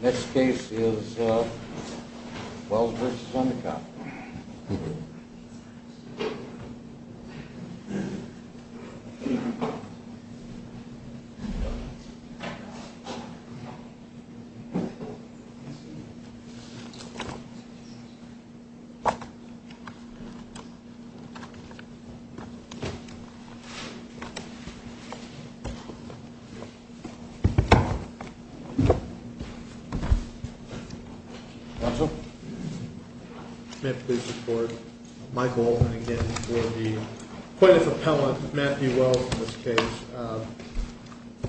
This case is Wells v. Endicott. May I please record my goal and again for the plaintiff appellant Matthew Wells in this case.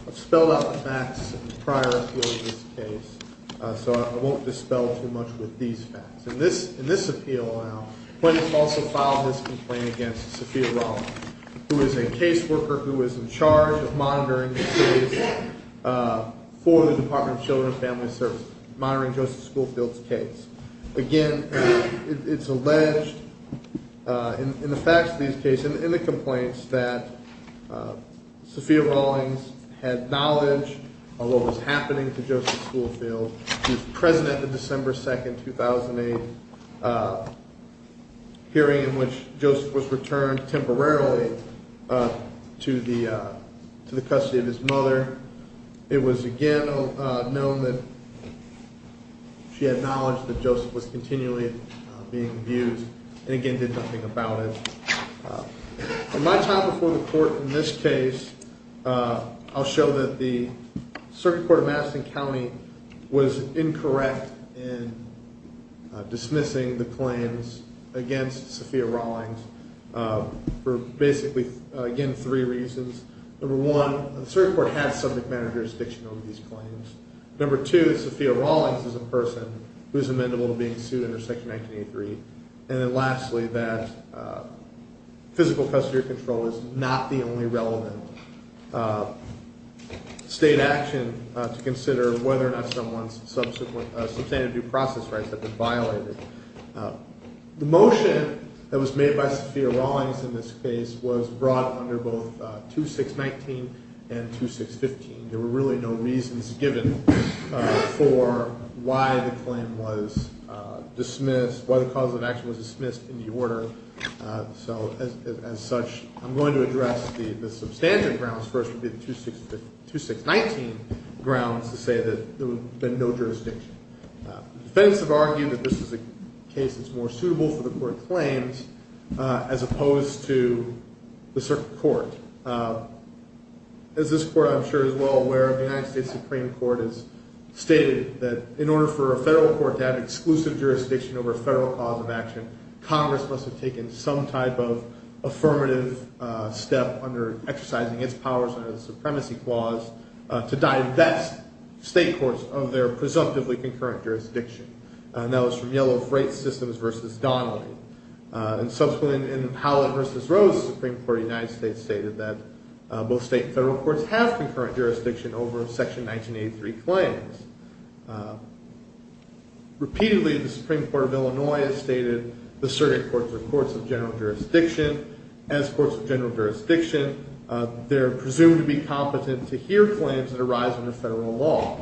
I've spelled out the facts in the prior appeal of this case, so I won't dispel too much with these facts. In this appeal now, the plaintiff also filed his complaint against Sophia Rollins, who is a case worker who is in charge of monitoring the series for the Department of Children and Family Services, monitoring Joseph Schoolfield's case. Again, it's alleged in the facts of these cases, in the complaints, that Sophia Rollins had knowledge of what was happening to Joseph Schoolfield. She was present at the December 2, 2008 hearing in which Joseph was returned temporarily to the custody of his mother. It was again known that she had knowledge that Joseph was continually being abused and again did nothing about it. In my time before the court in this case, I'll show that the Circuit Court of Madison County was incorrect in dismissing the claims against Sophia Rollins for basically, again, three reasons. Number one, the Circuit Court had subject matter jurisdiction over these claims. Number two, Sophia Rollins is a person who is amendable to being sued under Section 1983. And then lastly, that physical custodial control is not the only relevant state action to consider whether or not someone's substantive due process rights have been violated. The motion that was made by Sophia Rollins in this case was brought under both 2619 and 2615. There were really no reasons given for why the claim was dismissed, why the cause of action was dismissed in the order. So as such, I'm going to address the substantive grounds first, which would be the 2619 grounds to say that there would have been no jurisdiction. The defense have argued that this is a case that's more suitable for the court claims as opposed to the Circuit Court. As this court, I'm sure, is well aware of, the United States Supreme Court has stated that in order for a federal court to have exclusive jurisdiction over a federal cause of action, Congress must have taken some type of affirmative step under exercising its powers under the Supremacy Clause to divest state courts of their presumptively concurrent jurisdiction. And that was from Yellow Freight Systems versus Donnelly. Subsequently, in Howlett versus Rose, the Supreme Court of the United States stated that both state and federal courts have concurrent jurisdiction over Section 1983 claims. Repeatedly, the Supreme Court of Illinois has stated the Circuit Courts are courts of general jurisdiction. As courts of general jurisdiction, they're presumed to be competent to hear claims that arise under federal law.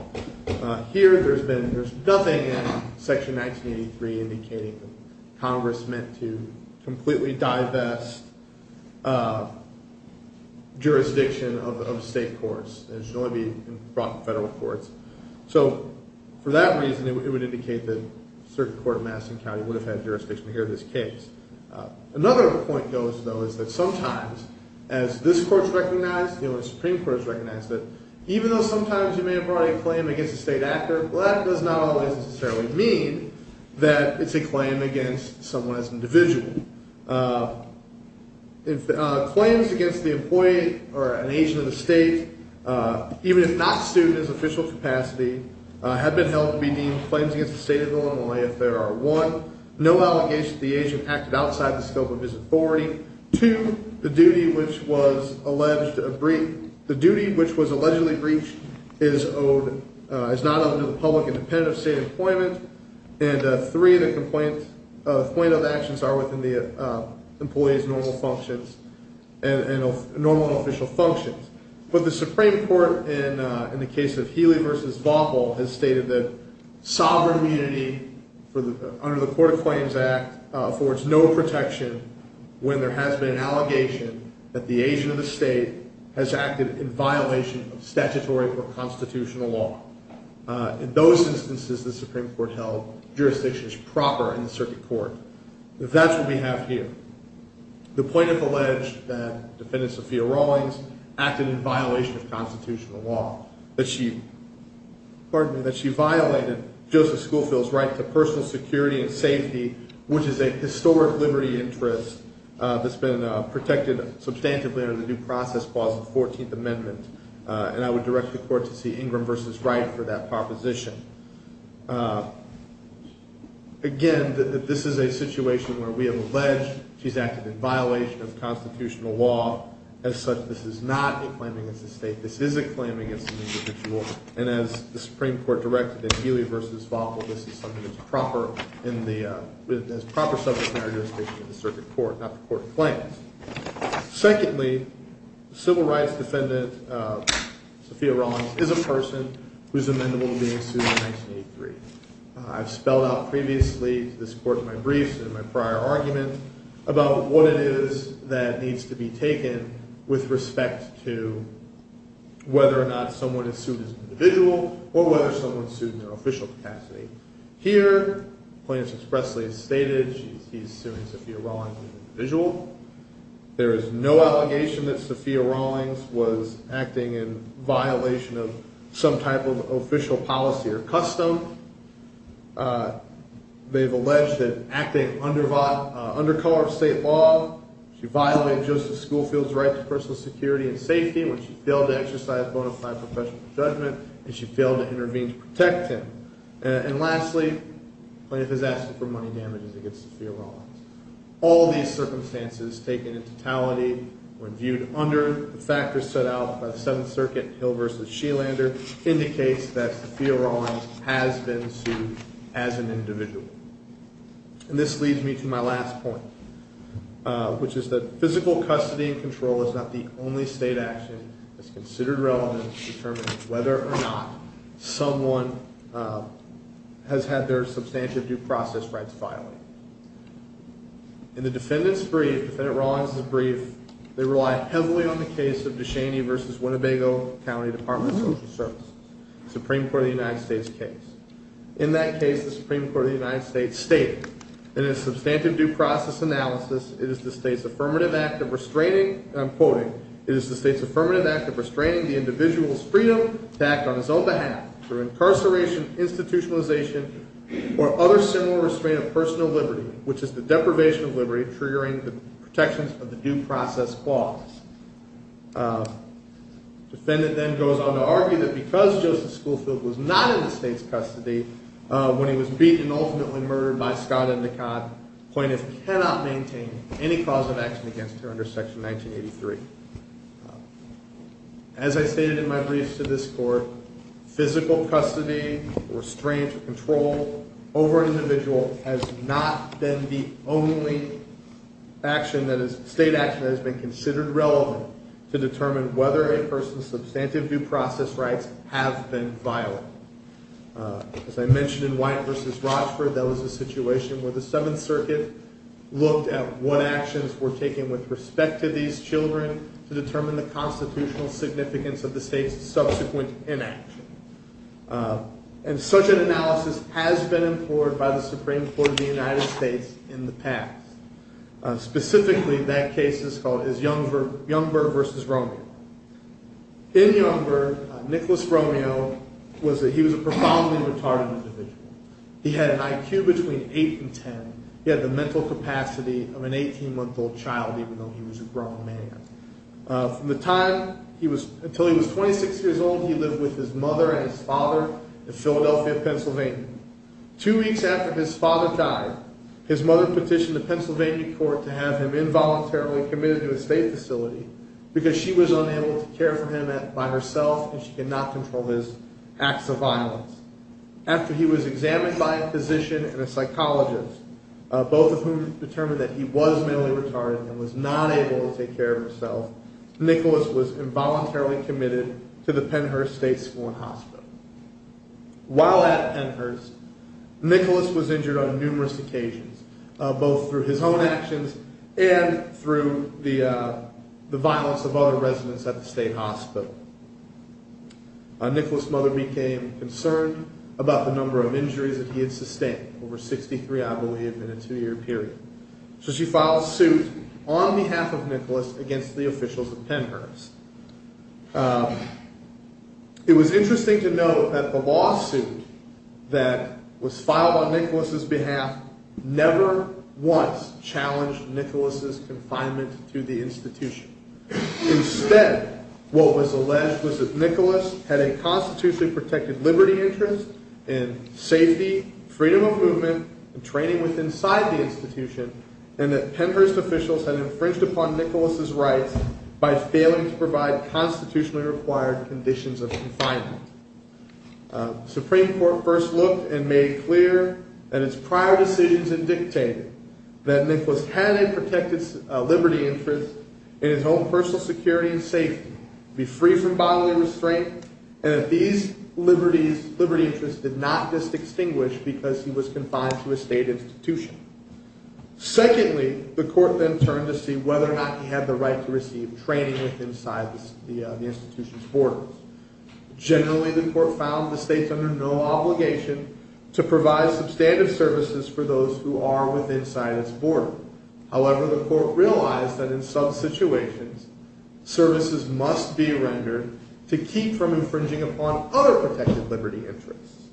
Here, there's nothing in Section 1983 indicating that Congress meant to completely divest jurisdiction of state courts. It should only be brought to federal courts. So, for that reason, it would indicate that a certain court in Madison County would have had jurisdiction to hear this case. Another point goes, though, is that sometimes, as this court's recognized, even though sometimes you may have brought a claim against a state actor, that does not always necessarily mean that it's a claim against someone as an individual. Claims against the employee or an agent of the state, even if not suited to official capacity, have been held to be deemed claims against the state of Illinois if there are, one, no allegations that the agent acted outside the scope of his authority, two, the duty which was allegedly breached is not under the public independent of state employment, and three, the complaint of actions are within the employee's normal functions and normal official functions. But the Supreme Court, in the case of Healy v. Vaughn, has stated that sovereign immunity under the Court of Claims Act affords no protection when there has been an allegation that the agent of the state has acted in violation of statutory or constitutional law. In those instances, the Supreme Court held jurisdictions proper in the circuit court. That's what we have here. The plaintiff alleged that Defendant Sophia Rawlings acted in violation of constitutional law, that she violated Joseph Schoolfield's right to personal security and safety, which is a historic liberty interest that's been protected substantively under the new process clause of the 14th Amendment, and I would direct the court to see Ingram v. Wright for that proposition. Again, this is a situation where we have alleged she's acted in violation of constitutional law. As such, this is not a claim against the state. This is a claim against an individual, and as the Supreme Court directed in Healy v. Vaughn, this is something that's proper subject matter jurisdiction in the circuit court, not the court of claims. Secondly, civil rights defendant Sophia Rawlings is a person who is amendable to being sued in 1983. I've spelled out previously to this court in my briefs and in my prior argument about what it is that needs to be taken with respect to whether or not someone is sued as an individual or whether someone is sued in their official capacity. Here, the plaintiff expressly stated she's suing Sophia Rawlings as an individual. There is no allegation that Sophia Rawlings was acting in violation of some type of official policy or custom. They've alleged that acting under color of state law, she violated Joseph Schoolfield's right to personal security and safety when she failed to exercise bona fide professional judgment and she failed to intervene to protect him. And lastly, the plaintiff has asked for money damages against Sophia Rawlings. All these circumstances taken in totality when viewed under the factors set out by the Seventh Circuit, Hill v. Shelander, indicates that Sophia Rawlings has been sued as an individual. And this leads me to my last point, which is that physical custody and control is not the only state action that's considered relevant to determine whether or not someone has had their substantive due process rights filed. In the defendant's brief, Defendant Rawlings' brief, they rely heavily on the case of DeShaney v. Winnebago County Department of Social Services, Supreme Court of the United States case. In that case, the Supreme Court of the United States stated, in its substantive due process analysis, it is the state's affirmative act of restraining, and I'm quoting, it is the state's affirmative act of restraining the individual's freedom to act on his own behalf through incarceration, institutionalization, or other similar restraint of personal liberty, which is the deprivation of liberty triggering the protections of the due process clause. Defendant then goes on to argue that because Joseph Schoolfield was not in the state's custody when he was beaten and ultimately murdered by Scott Endicott, plaintiff cannot maintain any cause of action against her under Section 1983. As I stated in my brief to this court, physical custody or restraint or control over an individual has not been the only state action that has been considered relevant to determine whether a person's substantive due process rights have been filed. As I mentioned in White v. Rochford, that was a situation where the Seventh Circuit looked at what actions were taken with respect to these children to determine the constitutional significance of the state's subsequent inaction. And such an analysis has been implored by the Supreme Court of the United States in the past. Specifically, that case is Youngberg v. Romeo. In Youngberg, Nicholas Romeo, he was a profoundly retarded individual. He had an IQ between 8 and 10. He had the mental capacity of an 18-month-old child, even though he was a grown man. From the time until he was 26 years old, he lived with his mother and his father in Philadelphia, Pennsylvania. Two weeks after his father died, his mother petitioned the Pennsylvania court to have him involuntarily committed to a state facility because she was unable to care for him by herself and she could not control his acts of violence. After he was examined by a physician and a psychologist, both of whom determined that he was mentally retarded and was not able to take care of himself, Nicholas was involuntarily committed to the Pennhurst State School and Hospital. While at Pennhurst, Nicholas was injured on numerous occasions, both through his own actions and through the violence of other residents at the state hospital. Nicholas' mother became concerned about the number of injuries that he had sustained, over 63, I believe, in a two-year period. So she filed a suit on behalf of Nicholas against the officials at Pennhurst. It was interesting to know that the lawsuit that was filed on Nicholas' behalf never once challenged Nicholas' confinement to the institution. Instead, what was alleged was that Nicholas had a constitutionally protected liberty interest in safety, freedom of movement, and training inside the institution, and that Pennhurst officials had infringed upon Nicholas' rights by failing to provide constitutionally required conditions of confinement. The Supreme Court first looked and made clear in its prior decisions and dictated that Nicholas had a protected liberty interest in his own personal security and safety, be free from bodily restraint, and that these liberty interests did not dis-extinguish because he was confined to a state institution. Secondly, the court then turned to see whether or not he had the right to receive training inside the institution's borders. Generally, the court found the states under no obligation to provide substantive services for those who are inside its borders. However, the court realized that in some situations, services must be rendered to keep from infringing upon other protected liberty interests.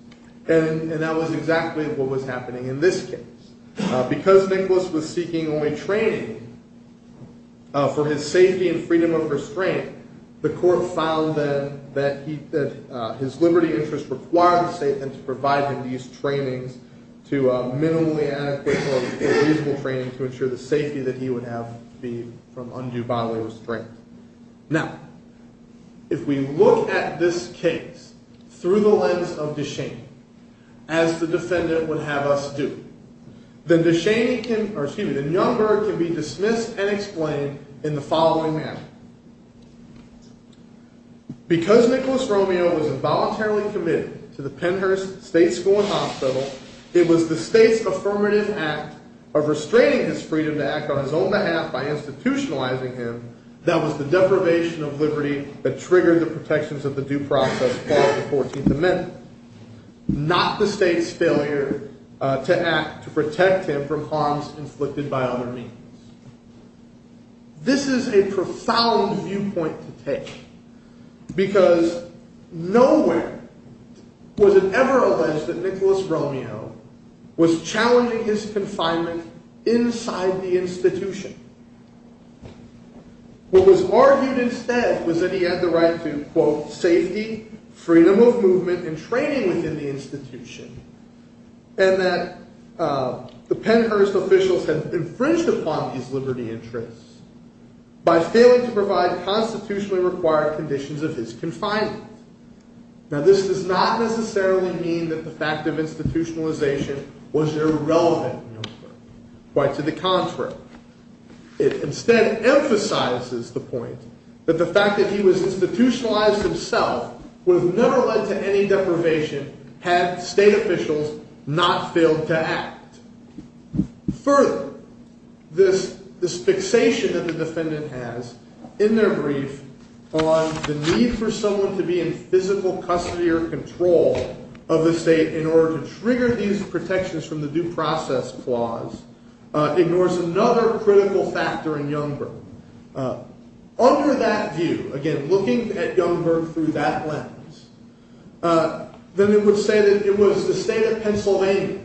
And that was exactly what was happening in this case. Because Nicholas was seeking only training for his safety and freedom of restraint, the court found that his liberty interests required the state to provide him these trainings to minimally adequate or reasonable training to ensure the safety that he would have from undue bodily restraint. Now, if we look at this case through the lens of DeShaney, as the defendant would have us do, then Youngberg can be dismissed and explained in the following manner. Because Nicholas Romeo was involuntarily committed to the Pennhurst State School and Hospital, it was the state's affirmative act of restraining his freedom to act on his own behalf by institutionalizing him that was the deprivation of liberty that triggered the protections of the due process following the 14th Amendment, not the state's failure to act to protect him from harms inflicted by other means. This is a profound viewpoint to take, because nowhere was it ever alleged that Nicholas Romeo was challenging his confinement inside the institution. What was argued instead was that he had the right to, quote, safety, freedom of movement, and training within the institution, and that the Pennhurst officials had infringed upon him his liberty interests by failing to provide constitutionally required conditions of his confinement. Now, this does not necessarily mean that the fact of institutionalization was irrelevant to Youngberg. Quite to the contrary. It instead emphasizes the point that the fact that he was institutionalized himself would have never led to any deprivation had state officials not failed to act. Further, this fixation that the defendant has in their brief on the need for someone to be in physical custody or control of the state in order to trigger these protections from the due process clause ignores another critical factor in Youngberg. Under that view, again, looking at Youngberg through that lens, then it would say that it was the state of Pennsylvania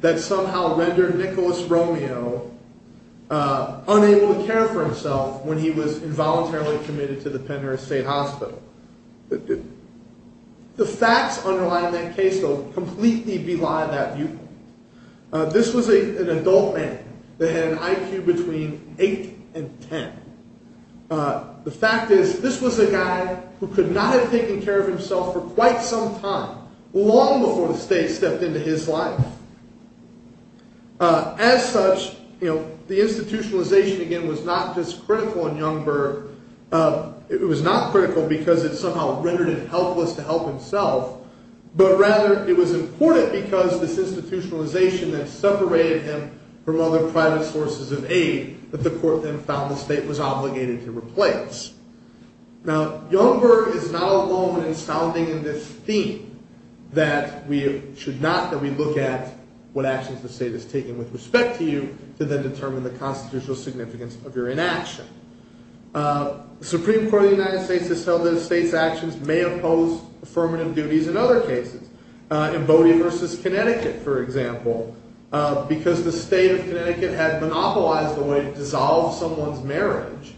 that somehow rendered Nicholas Romeo unable to care for himself when he was involuntarily committed to the Pennhurst State Hospital. The facts underlying that case, though, completely belied that view. This was an adult man that had an IQ between 8 and 10. The fact is, this was a guy who could not have taken care of himself for quite some time, long before the state stepped into his life. As such, the institutionalization, again, was not just critical in Youngberg. It was not critical because it somehow rendered him helpless to help himself, but rather it was important because this institutionalization that separated him from other private sources of aid that the court then found the state was obligated to replace. Now, Youngberg is not alone in sounding in this theme that we should not, that we look at what actions the state has taken with respect to you to then determine the constitutional significance of your inaction. The Supreme Court of the United States has held that a state's actions may oppose affirmative duties in other cases. In Bodie versus Connecticut, for example, because the state of Connecticut had monopolized the way to dissolve someone's marriage,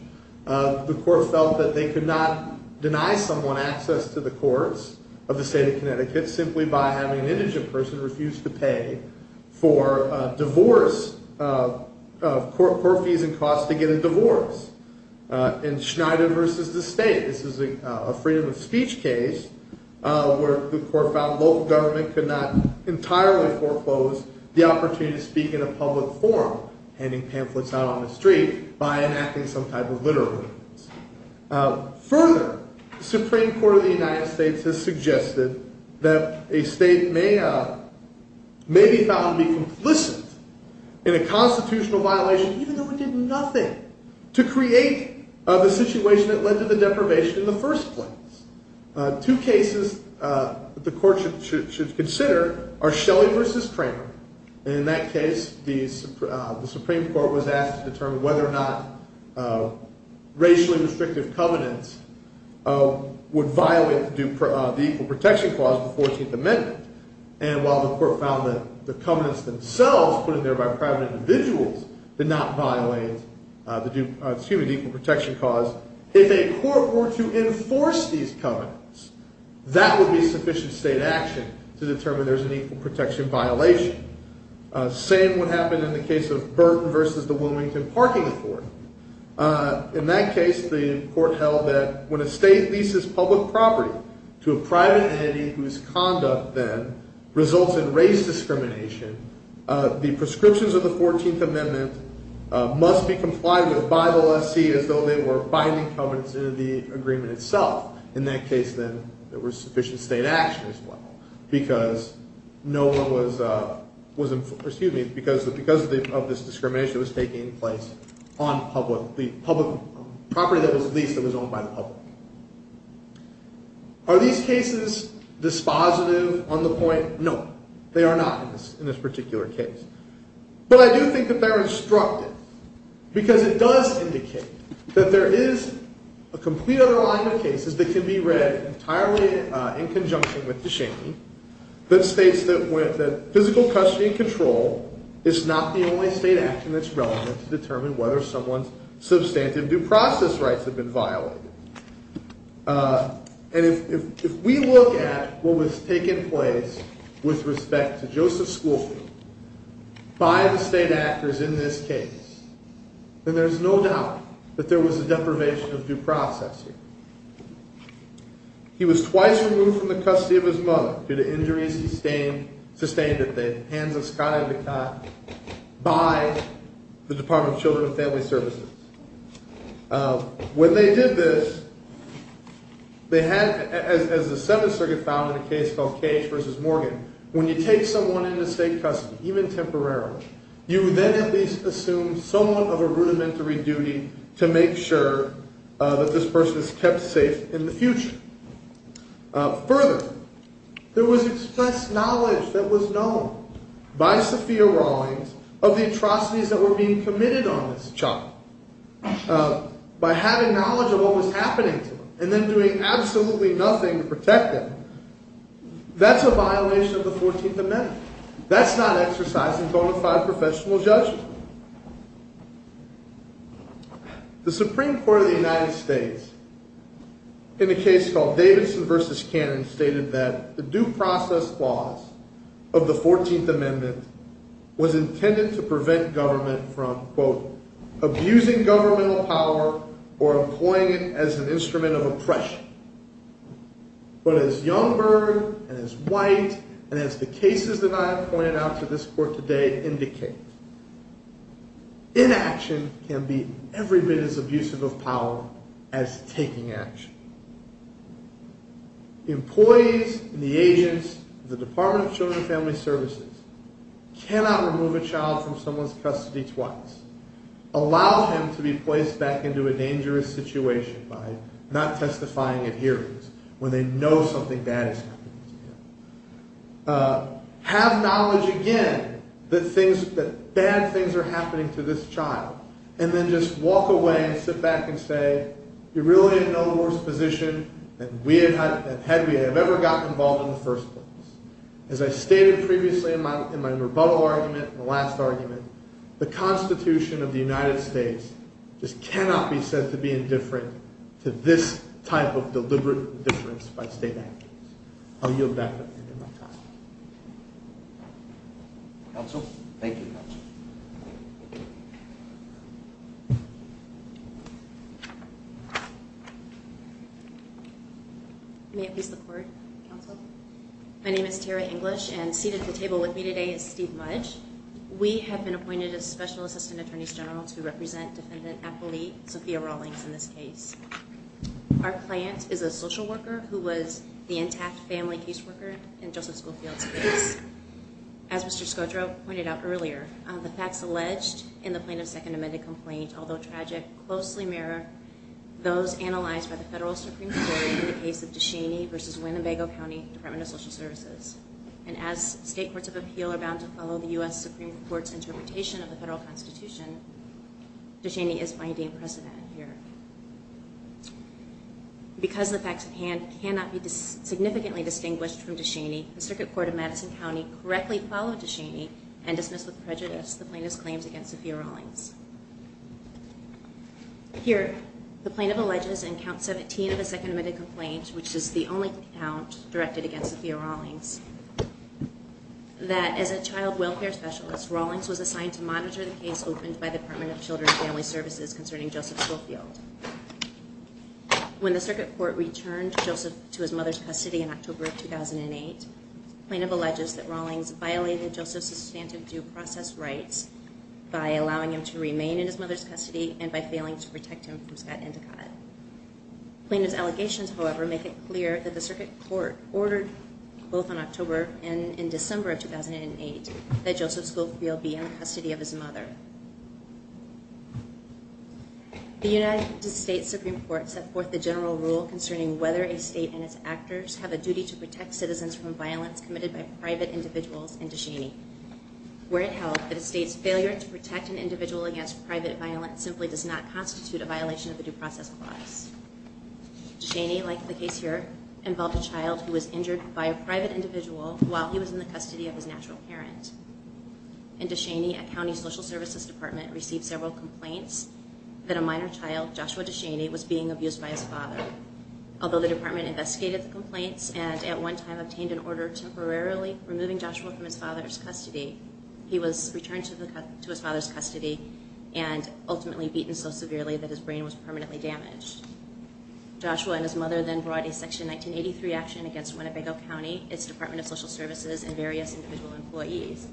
the court felt that they could not deny someone access to the courts of the state of Connecticut simply by having an indigent person refuse to pay for divorce, court fees and costs to get a divorce. In Schneider versus the state, this is a freedom of speech case where the court found local government could not entirely foreclose the opportunity to speak in a public forum, handing pamphlets out on the street by enacting some type of literary. Further, the Supreme Court of the United States has suggested that a state may be found to be complicit in a constitutional violation, even though it did nothing to create the situation that led to the deprivation in the first place. Two cases that the court should consider are Shelley versus Kramer. In that case, the Supreme Court was asked to determine whether or not racially restrictive covenants would violate the Equal Protection Clause of the 14th Amendment. And while the court found that the covenants themselves, put in there by private individuals, did not violate the Equal Protection Clause, if a court were to enforce these covenants, that would be sufficient state action to determine there's an equal protection violation. Same would happen in the case of Burton versus the Wilmington Parking Authority. In that case, the court held that when a state leases public property to a private entity whose conduct then results in race discrimination, the prescriptions of the 14th Amendment must be complied with by the lessee as though they were binding covenants in the agreement itself. In that case, then, there was sufficient state action as well, because of this discrimination that was taking place on the property that was leased and was owned by the public. Are these cases dispositive on the point? No. They are not in this particular case. But I do think that they're instructive, because it does indicate that there is a complete other line of cases that can be read entirely in conjunction with DeShaney that states that physical custody and control is not the only state action that's relevant to determine whether someone's substantive due process rights have been violated. And if we look at what was taking place with respect to Joseph Schoolfield, by the state actors in this case, then there's no doubt that there was a deprivation of due process here. He was twice removed from the custody of his mother due to injuries he sustained at the hands of Scotty McNaughton by the Department of Children and Family Services. When they did this, they had, as the Seventh Circuit found in a case called Cage v. Morgan, when you take someone into state custody, even temporarily, you then at least assume somewhat of a rudimentary duty to make sure that this person is kept safe in the future. Further, there was expressed knowledge that was known by Sophia Rawlings of the atrocities that were being committed on this child by having knowledge of what was happening to them and then doing absolutely nothing to protect them. That's a violation of the 14th Amendment. That's not exercising bona fide professional judgment. The Supreme Court of the United States, in a case called Davidson v. Cannon, stated that the due process clause of the 14th Amendment was intended to prevent government from both abusing governmental power or employing it as an instrument of oppression. But as Youngberg and as White and as the cases that I have pointed out to this court today indicate, inaction can be every bit as abusive of power as taking action. Employees and the agents of the Department of Children and Family Services cannot remove a child from someone's custody twice, allow him to be placed back into a dangerous situation by not testifying at hearings when they know something bad is happening to him, have knowledge again that bad things are happening to this child, and then just walk away and sit back and say, you're really in no worse position than had we ever gotten involved in the first place. As I stated previously in my rebuttal argument and the last argument, the Constitution of the United States just cannot be said to be indifferent to this type of deliberate indifference by state agents. I'll yield back at the end of my time. Counsel? Thank you, Counsel. May it please the Court, Counsel? My name is Tara English, and seated at the table with me today is Steve Mudge. We have been appointed as Special Assistant Attorneys General to represent Defendant Appellee Sophia Rawlings in this case. Our client is a social worker who was the intact family caseworker in Joseph Schoolfield's case. As Mr. Scodro pointed out earlier, the facts alleged in the Plaintiff's Second Amended Complaint, although tragic, closely mirror those analyzed by the Federal Supreme Court in the case of Deshaney v. Winnebago County Department of Social Services. And as state courts of appeal are bound to follow the U.S. Supreme Court's interpretation of the Federal Constitution, Deshaney is binding precedent here. Because the facts at hand cannot be significantly distinguished from Deshaney, the Circuit Court of Madison County correctly followed Deshaney and dismissed with prejudice the Plaintiff's claims against Sophia Rawlings. Here, the Plaintiff alleges in Count 17 of the Second Amended Complaint, which is the only count directed against Sophia Rawlings, that as a child welfare specialist, Rawlings was assigned to monitor the case opened by the Department of Children and Family Services concerning Joseph Schoolfield. When the Circuit Court returned Joseph to his mother's custody in October of 2008, the Plaintiff alleges that Rawlings violated Joseph's substantive due process rights by allowing him to remain in his mother's custody and by failing to protect him from Scott Endicott. Plaintiff's allegations, however, make it clear that the Circuit Court ordered, both in October and in December of 2008, that Joseph Schoolfield be in the custody of his mother. The United States Supreme Court set forth the general rule concerning whether a state and its actors have a duty to protect citizens from violence committed by private individuals in Deshaney. Where it held that a state's failure to protect an individual against private violence simply does not constitute a violation of the due process clause. Deshaney, like the case here, involved a child who was injured by a private individual while he was in the custody of his natural parent. In Deshaney, a county social services department received several complaints that a minor child, Joshua Deshaney, was being abused by his father. Although the department investigated the complaints and at one time obtained an order temporarily removing Joshua from his father's custody, he was returned to his father's custody and ultimately beaten so severely that his brain was permanently damaged. Joshua and his mother then brought a Section 1983 action against Winnebago County, its Department of Social Services, and various individual employees,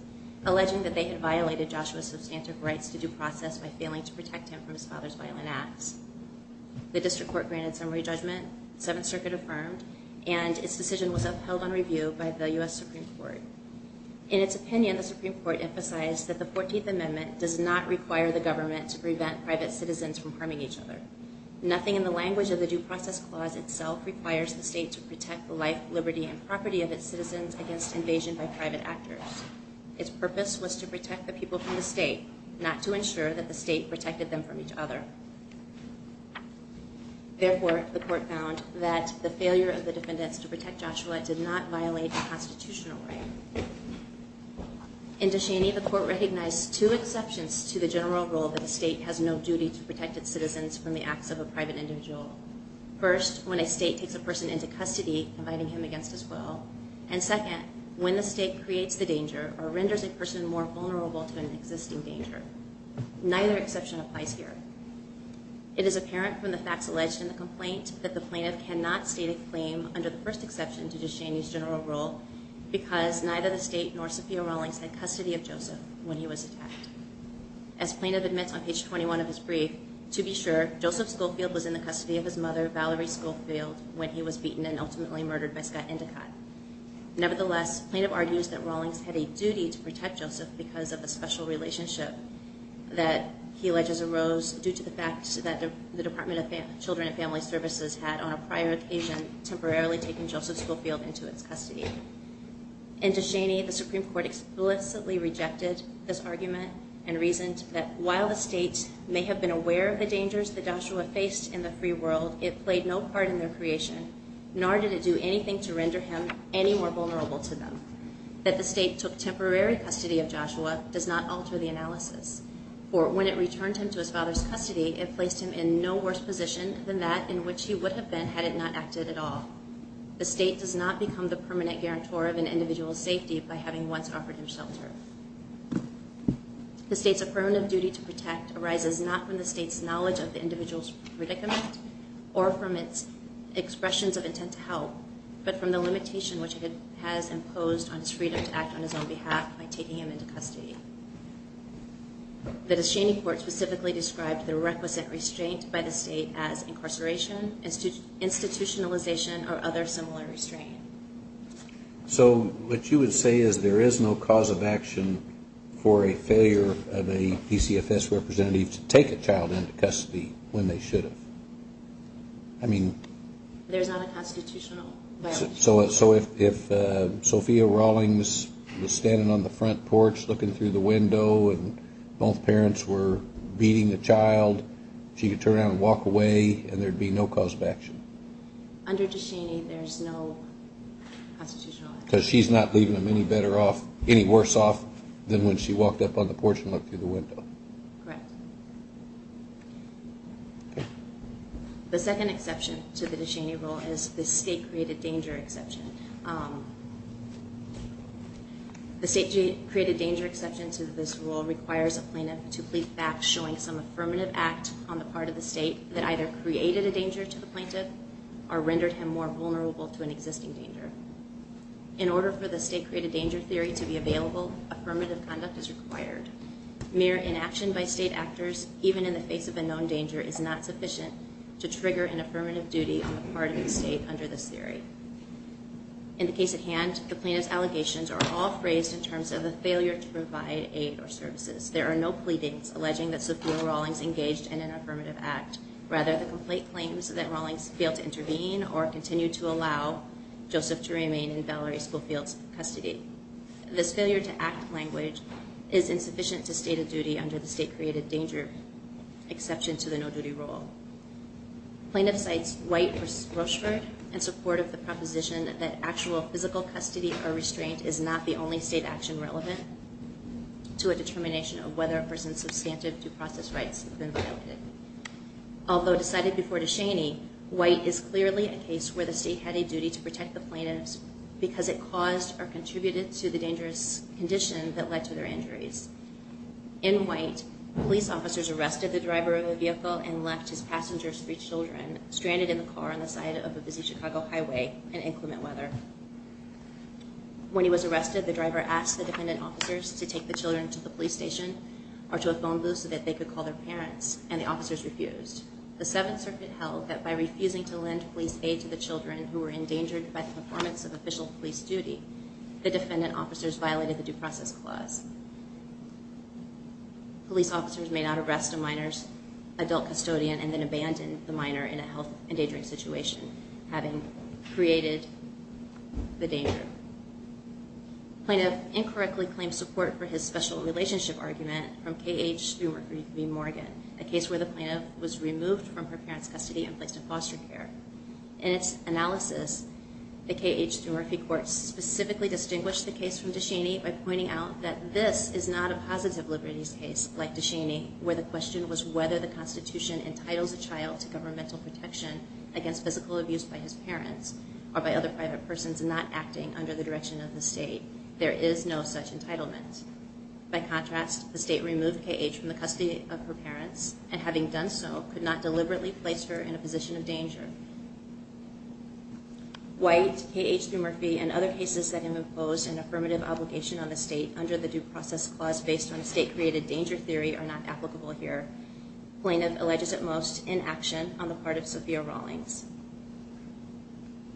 alleging that they had violated Joshua's substantive rights to due process by failing to protect him from his father's violent acts. The district court granted some re-judgment, the Seventh Circuit affirmed, and its decision was upheld on review by the U.S. Supreme Court. In its opinion, the Supreme Court emphasized that the Fourteenth Amendment does not require the government to prevent private citizens from harming each other. Nothing in the language of the due process clause itself requires the state to protect the life, liberty, and property of its citizens against invasion by private actors. Its purpose was to protect the people from the state, not to ensure that the state protected them from each other. Therefore, the court found that the failure of the defendants to protect Joshua did not violate the constitutional right. In De Cheney, the court recognized two exceptions to the general rule that the state has no duty to protect its citizens from the acts of a private individual. First, when a state takes a person into custody, inviting him against his will. And second, when the state creates the danger or renders a person more vulnerable to an existing danger. Neither exception applies here. It is apparent from the facts alleged in the complaint that the plaintiff cannot state a claim under the first exception to De Cheney's general rule because neither the state nor Sophia Rawlings had custody of Joseph when he was attacked. As plaintiff admits on page 21 of his brief, to be sure, Joseph Schofield was in the custody of his mother, Valerie Schofield, when he was beaten and ultimately murdered by Scott Endicott. Nevertheless, plaintiff argues that Rawlings had a duty to protect Joseph because of a special relationship that he alleges arose due to the fact that the Department of Children and Family Services had on a prior occasion temporarily taken Joseph Schofield into its custody. In De Cheney, the Supreme Court explicitly rejected this argument and reasoned that while the state may have been aware of the dangers that Joshua faced in the free world, it played no part in their creation, nor did it do anything to render him any more vulnerable to them. That the state took temporary custody of Joshua does not alter the analysis. For when it returned him to his father's custody, it placed him in no worse position than that in which he would have been had it not acted at all. The state does not become the permanent guarantor of an individual's safety by having once offered him shelter. The state's affirmative duty to protect arises not from the state's knowledge of the individual's predicament or from its expressions of intent to help, but from the limitation which it has imposed on its freedom to act on its own behalf by taking him into custody. The De Cheney court specifically described the requisite restraint by the state as incarceration, institutionalization, or other similar restraint. So what you would say is there is no cause of action for a failure of a PCFS representative to take a child into custody when they should have? I mean... There's not a constitutional violation. So if Sophia Rawlings was standing on the front porch looking through the window and both parents were beating the child, she could turn around and walk away and there'd be no cause of action? Under De Cheney, there's no constitutional action. Because she's not leaving him any worse off than when she walked up on the porch and looked through the window. Correct. The second exception to the De Cheney rule is the state-created danger exception. The state-created danger exception to this rule requires a plaintiff to plead back showing some affirmative act on the part of the state that either created a danger to the plaintiff or rendered him more vulnerable to an existing danger. In order for the state-created danger theory to be available, affirmative conduct is required. Mere inaction by state actors, even in the face of a known danger, is not sufficient to trigger an affirmative duty on the part of the state under this theory. In the case at hand, the plaintiff's allegations are all phrased in terms of a failure to provide aid or services. There are no pleadings alleging that Sophia Rawlings engaged in an affirmative act. Rather, the complaint claims that Rawlings failed to intervene or continued to allow Joseph to remain in Valerie Schofield's custody. This failure to act language is insufficient to state a duty under the state-created danger exception to the no-duty rule. Plaintiff cites White v. Rochford in support of the proposition that actual physical custody or restraint is not the only state action relevant to a determination of whether a person's substantive due process rights have been violated. Although decided before DeShaney, White is clearly a case where the state had a duty to protect the plaintiffs because it caused or contributed to the dangerous condition that led to their injuries. In White, police officers arrested the driver of the vehicle and left his passengers, three children, stranded in the car on the side of a busy Chicago highway in inclement weather. When he was arrested, the driver asked the defendant officers to take the children to the police station or to a phone booth so that they could call their parents, and the officers refused. The Seventh Circuit held that by refusing to lend police aid to the children who were endangered by the performance of official police duty, the defendant officers violated the due process clause. Police officers may not arrest a minor's adult custodian and then abandon the minor in a health endangering situation, having created the danger. Plaintiff incorrectly claims support for his special relationship argument from K.H. Thumerphy Morgan, a case where the plaintiff was removed from her parents' custody and placed in foster care. In its analysis, the K.H. Thumerphy court specifically distinguished the case from DeCheney by pointing out that this is not a positive liberties case like DeCheney, where the question was whether the Constitution entitles a child to governmental protection against physical abuse by his parents or by other private persons not acting under the direction of the state. There is no such entitlement. By contrast, the state removed K.H. from the custody of her parents and having done so, could not deliberately place her in a position of danger. White, K.H. Thumerphy, and other cases that have imposed an affirmative obligation on the state under the due process clause based on state-created danger theory are not applicable here. Plaintiff alleges at most inaction on the part of Sophia Rawlings.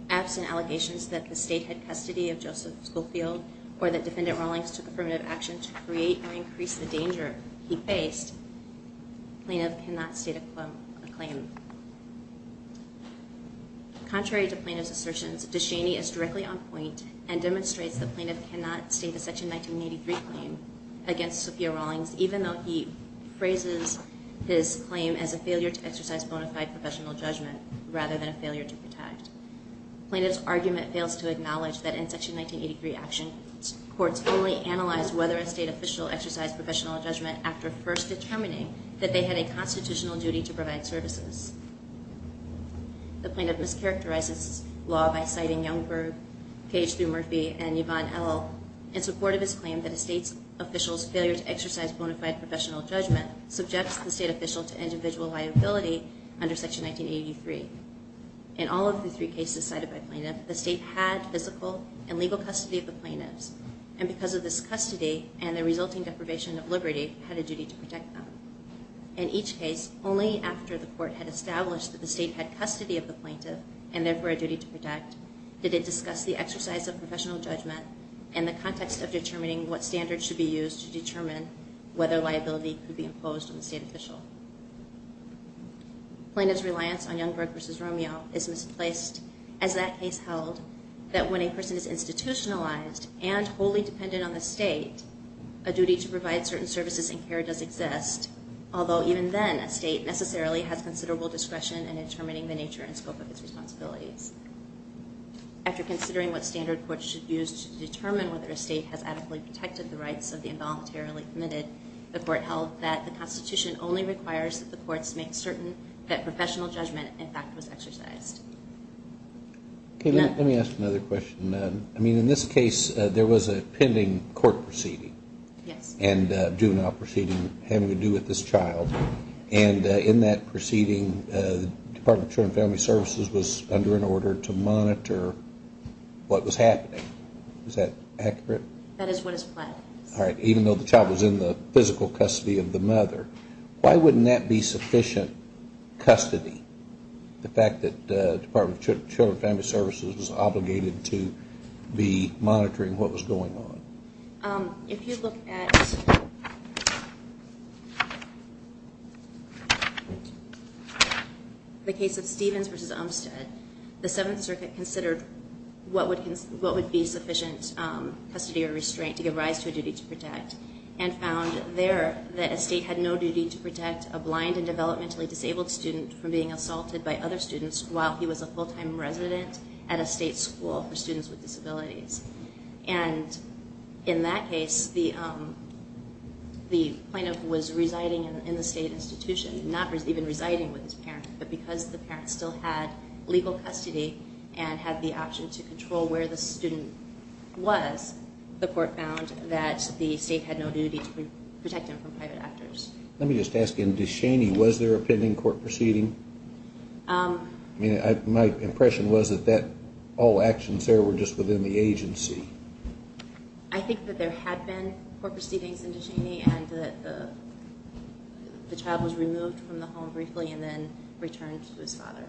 Absent allegations that the state had custody of Joseph Schofield or that defendant Rawlings took affirmative action to create or increase the danger he faced, plaintiff cannot state a claim. Contrary to plaintiff's assertions, DeCheney is directly on point and demonstrates the plaintiff cannot state a Section 1983 claim against Sophia Rawlings even though he phrases his claim as a failure to exercise bona fide professional judgment rather than a failure to protect. Plaintiff's argument fails to acknowledge that in Section 1983 actions, courts only analyze whether a state official exercised professional judgment after first determining that they had a constitutional duty to provide services. The plaintiff mischaracterizes law by citing Youngberg, K.H. Thumerphy, and Yvonne L. in support of his claim that a state official's failure to exercise bona fide professional judgment subjects the state official to individual liability under Section 1983. In all of the three cases cited by plaintiff, the state had physical and legal custody of the plaintiffs and because of this custody and the resulting deprivation of liberty, had a duty to protect them. In each case, only after the court had established that the state had custody of the plaintiff and therefore a duty to protect, did it discuss the exercise of professional judgment and the context of determining what standards should be used to determine whether liability could be imposed on the state official. Plaintiff's reliance on Youngberg v. Romeo is misplaced as that case held that when a person is institutionalized and wholly dependent on the state, a duty to provide certain services and care does exist, although even then, a state necessarily has considerable discretion in determining the nature and scope of its responsibilities. After considering what standard courts should use to determine whether a state has adequately protected the rights of the involuntarily committed, the court held that the Constitution only requires that the courts make certain that professional judgment, in fact, was exercised. Okay, let me ask another question. I mean, in this case, there was a pending court proceeding. Yes. And juvenile proceeding having to do with this child. And in that proceeding, Department of Children and Family Services was under an order to monitor what was happening. Is that accurate? That is what is planned. All right. Even though the child was in the physical custody of the mother, why wouldn't that be sufficient custody, the fact that Department of Children and Family Services was obligated to be monitoring what was going on? If you look at the case of Stevens v. Umstead, the Seventh Circuit considered what would be sufficient custody or restraint to give rise to a duty to protect and found there that a state had no duty to protect a blind and developmentally disabled student from being assaulted by other students while he was a full-time resident at a state school for students with disabilities. And in that case, the plaintiff was residing in the state institution, not even residing with his parents, but because the parents still had legal custody and had the option to control where the student was, the court found that the state had no duty to protect him from private actors. Let me just ask, in Descheny, was there a pending court proceeding? My impression was that all actions there were just within the agency. I think that there had been court proceedings in Descheny and that the child was removed from the home briefly and then returned to his father.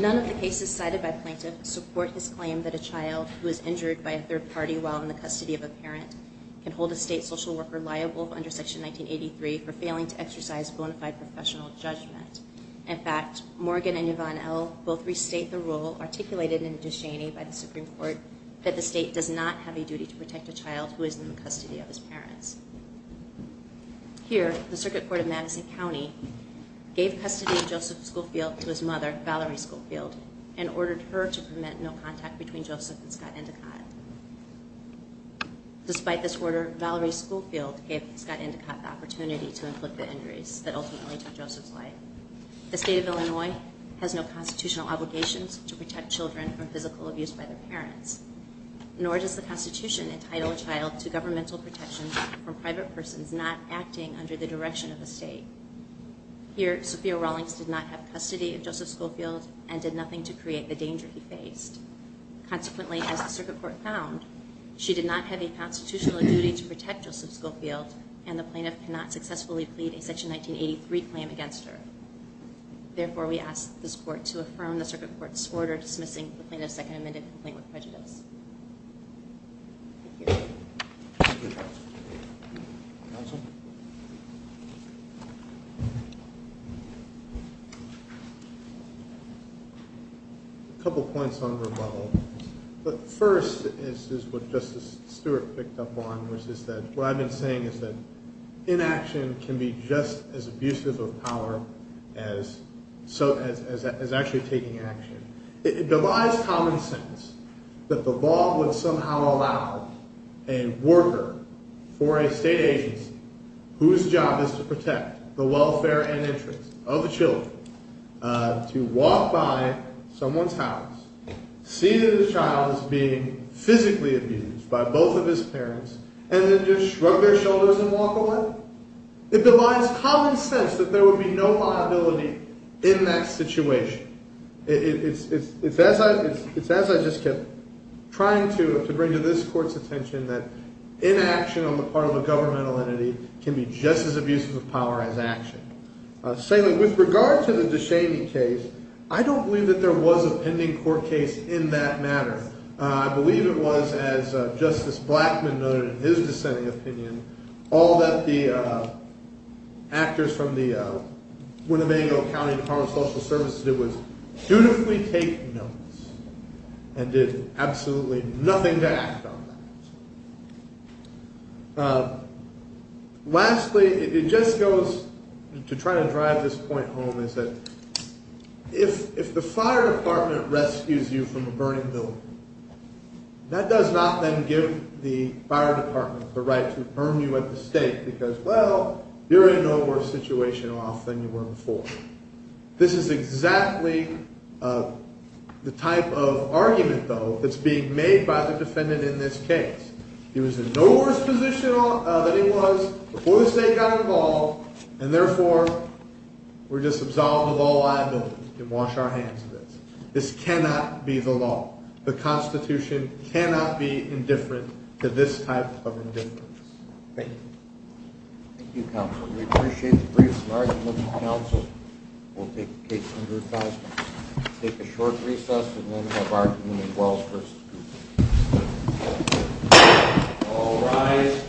None of the cases cited by plaintiffs support his claim that a child who is injured by a third party while in the custody of a parent can hold a state social worker liable under Section 1983 for failing to exercise bona fide professional judgment. In fact, Morgan and Yvonne L. both restate the rule articulated in Descheny by the Supreme Court that the state does not have a duty to protect a child who is in the custody of his parents. Here, the Circuit Court of Madison County gave custody of Joseph Schofield to his mother, Valerie Schofield, and ordered her to permit no contact between Joseph and Scott Endicott. Despite this order, Valerie Schofield gave Scott Endicott the opportunity to inflict the injuries that ultimately took Joseph's life. The state of Illinois has no constitutional obligations to protect children from physical abuse by their parents, nor does the Constitution entitle a child to governmental protection from private persons not acting under the direction of the state. Here, Sophia Rawlings did not have custody of Joseph Schofield and did nothing to create the danger he faced. Consequently, as the Circuit Court found, she did not have a constitutional duty to protect Joseph Schofield and the plaintiff cannot successfully plead a Section 1983 claim against her. Therefore, we ask this Court to affirm the Circuit Court's order dismissing the plaintiff's Second Amendment complaint with prejudice. Thank you. Thank you, Counsel. Counsel? A couple points on the rebuttal. But first is what Justice Stewart picked up on, which is that what I've been saying is that inaction can be just as abusive of power as actually taking action. It divides common sense that the law would somehow allow a worker for a state agency whose job is to protect the welfare and interests of the children to walk by someone's house, see that the child is being physically abused by both of his parents, and then just shrug their shoulders and walk away? It divides common sense that there would be no liability in that situation. It's as I just kept trying to bring to this Court's attention that inaction on the part of a governmental entity can be just as abusive of power as action. Secondly, with regard to the DeShaney case, I don't believe that there was a pending court case in that matter. I believe it was, as Justice Blackman noted in his dissenting opinion, all that the actors from the Winnebago County Department of Social Services did was dutifully take notes and did absolutely nothing to act on that. Lastly, it just goes to try to drive this point home, is that if the fire department rescues you from a burning building, that does not then give the fire department the right to burn you at the stake because, well, you're in no worse situation off than you were before. This is exactly the type of argument, though, that's being made by the defendant in this case. He was in no worse position than he was before the state got involved, and therefore we're just absolved of all liability and wash our hands of this. This cannot be the law. The Constitution cannot be indifferent to this type of indifference. Thank you. Thank you, Counsel. We appreciate the brief argument, Counsel. We'll take the case under advisory. We'll take a short recess and then have argument as well. All rise.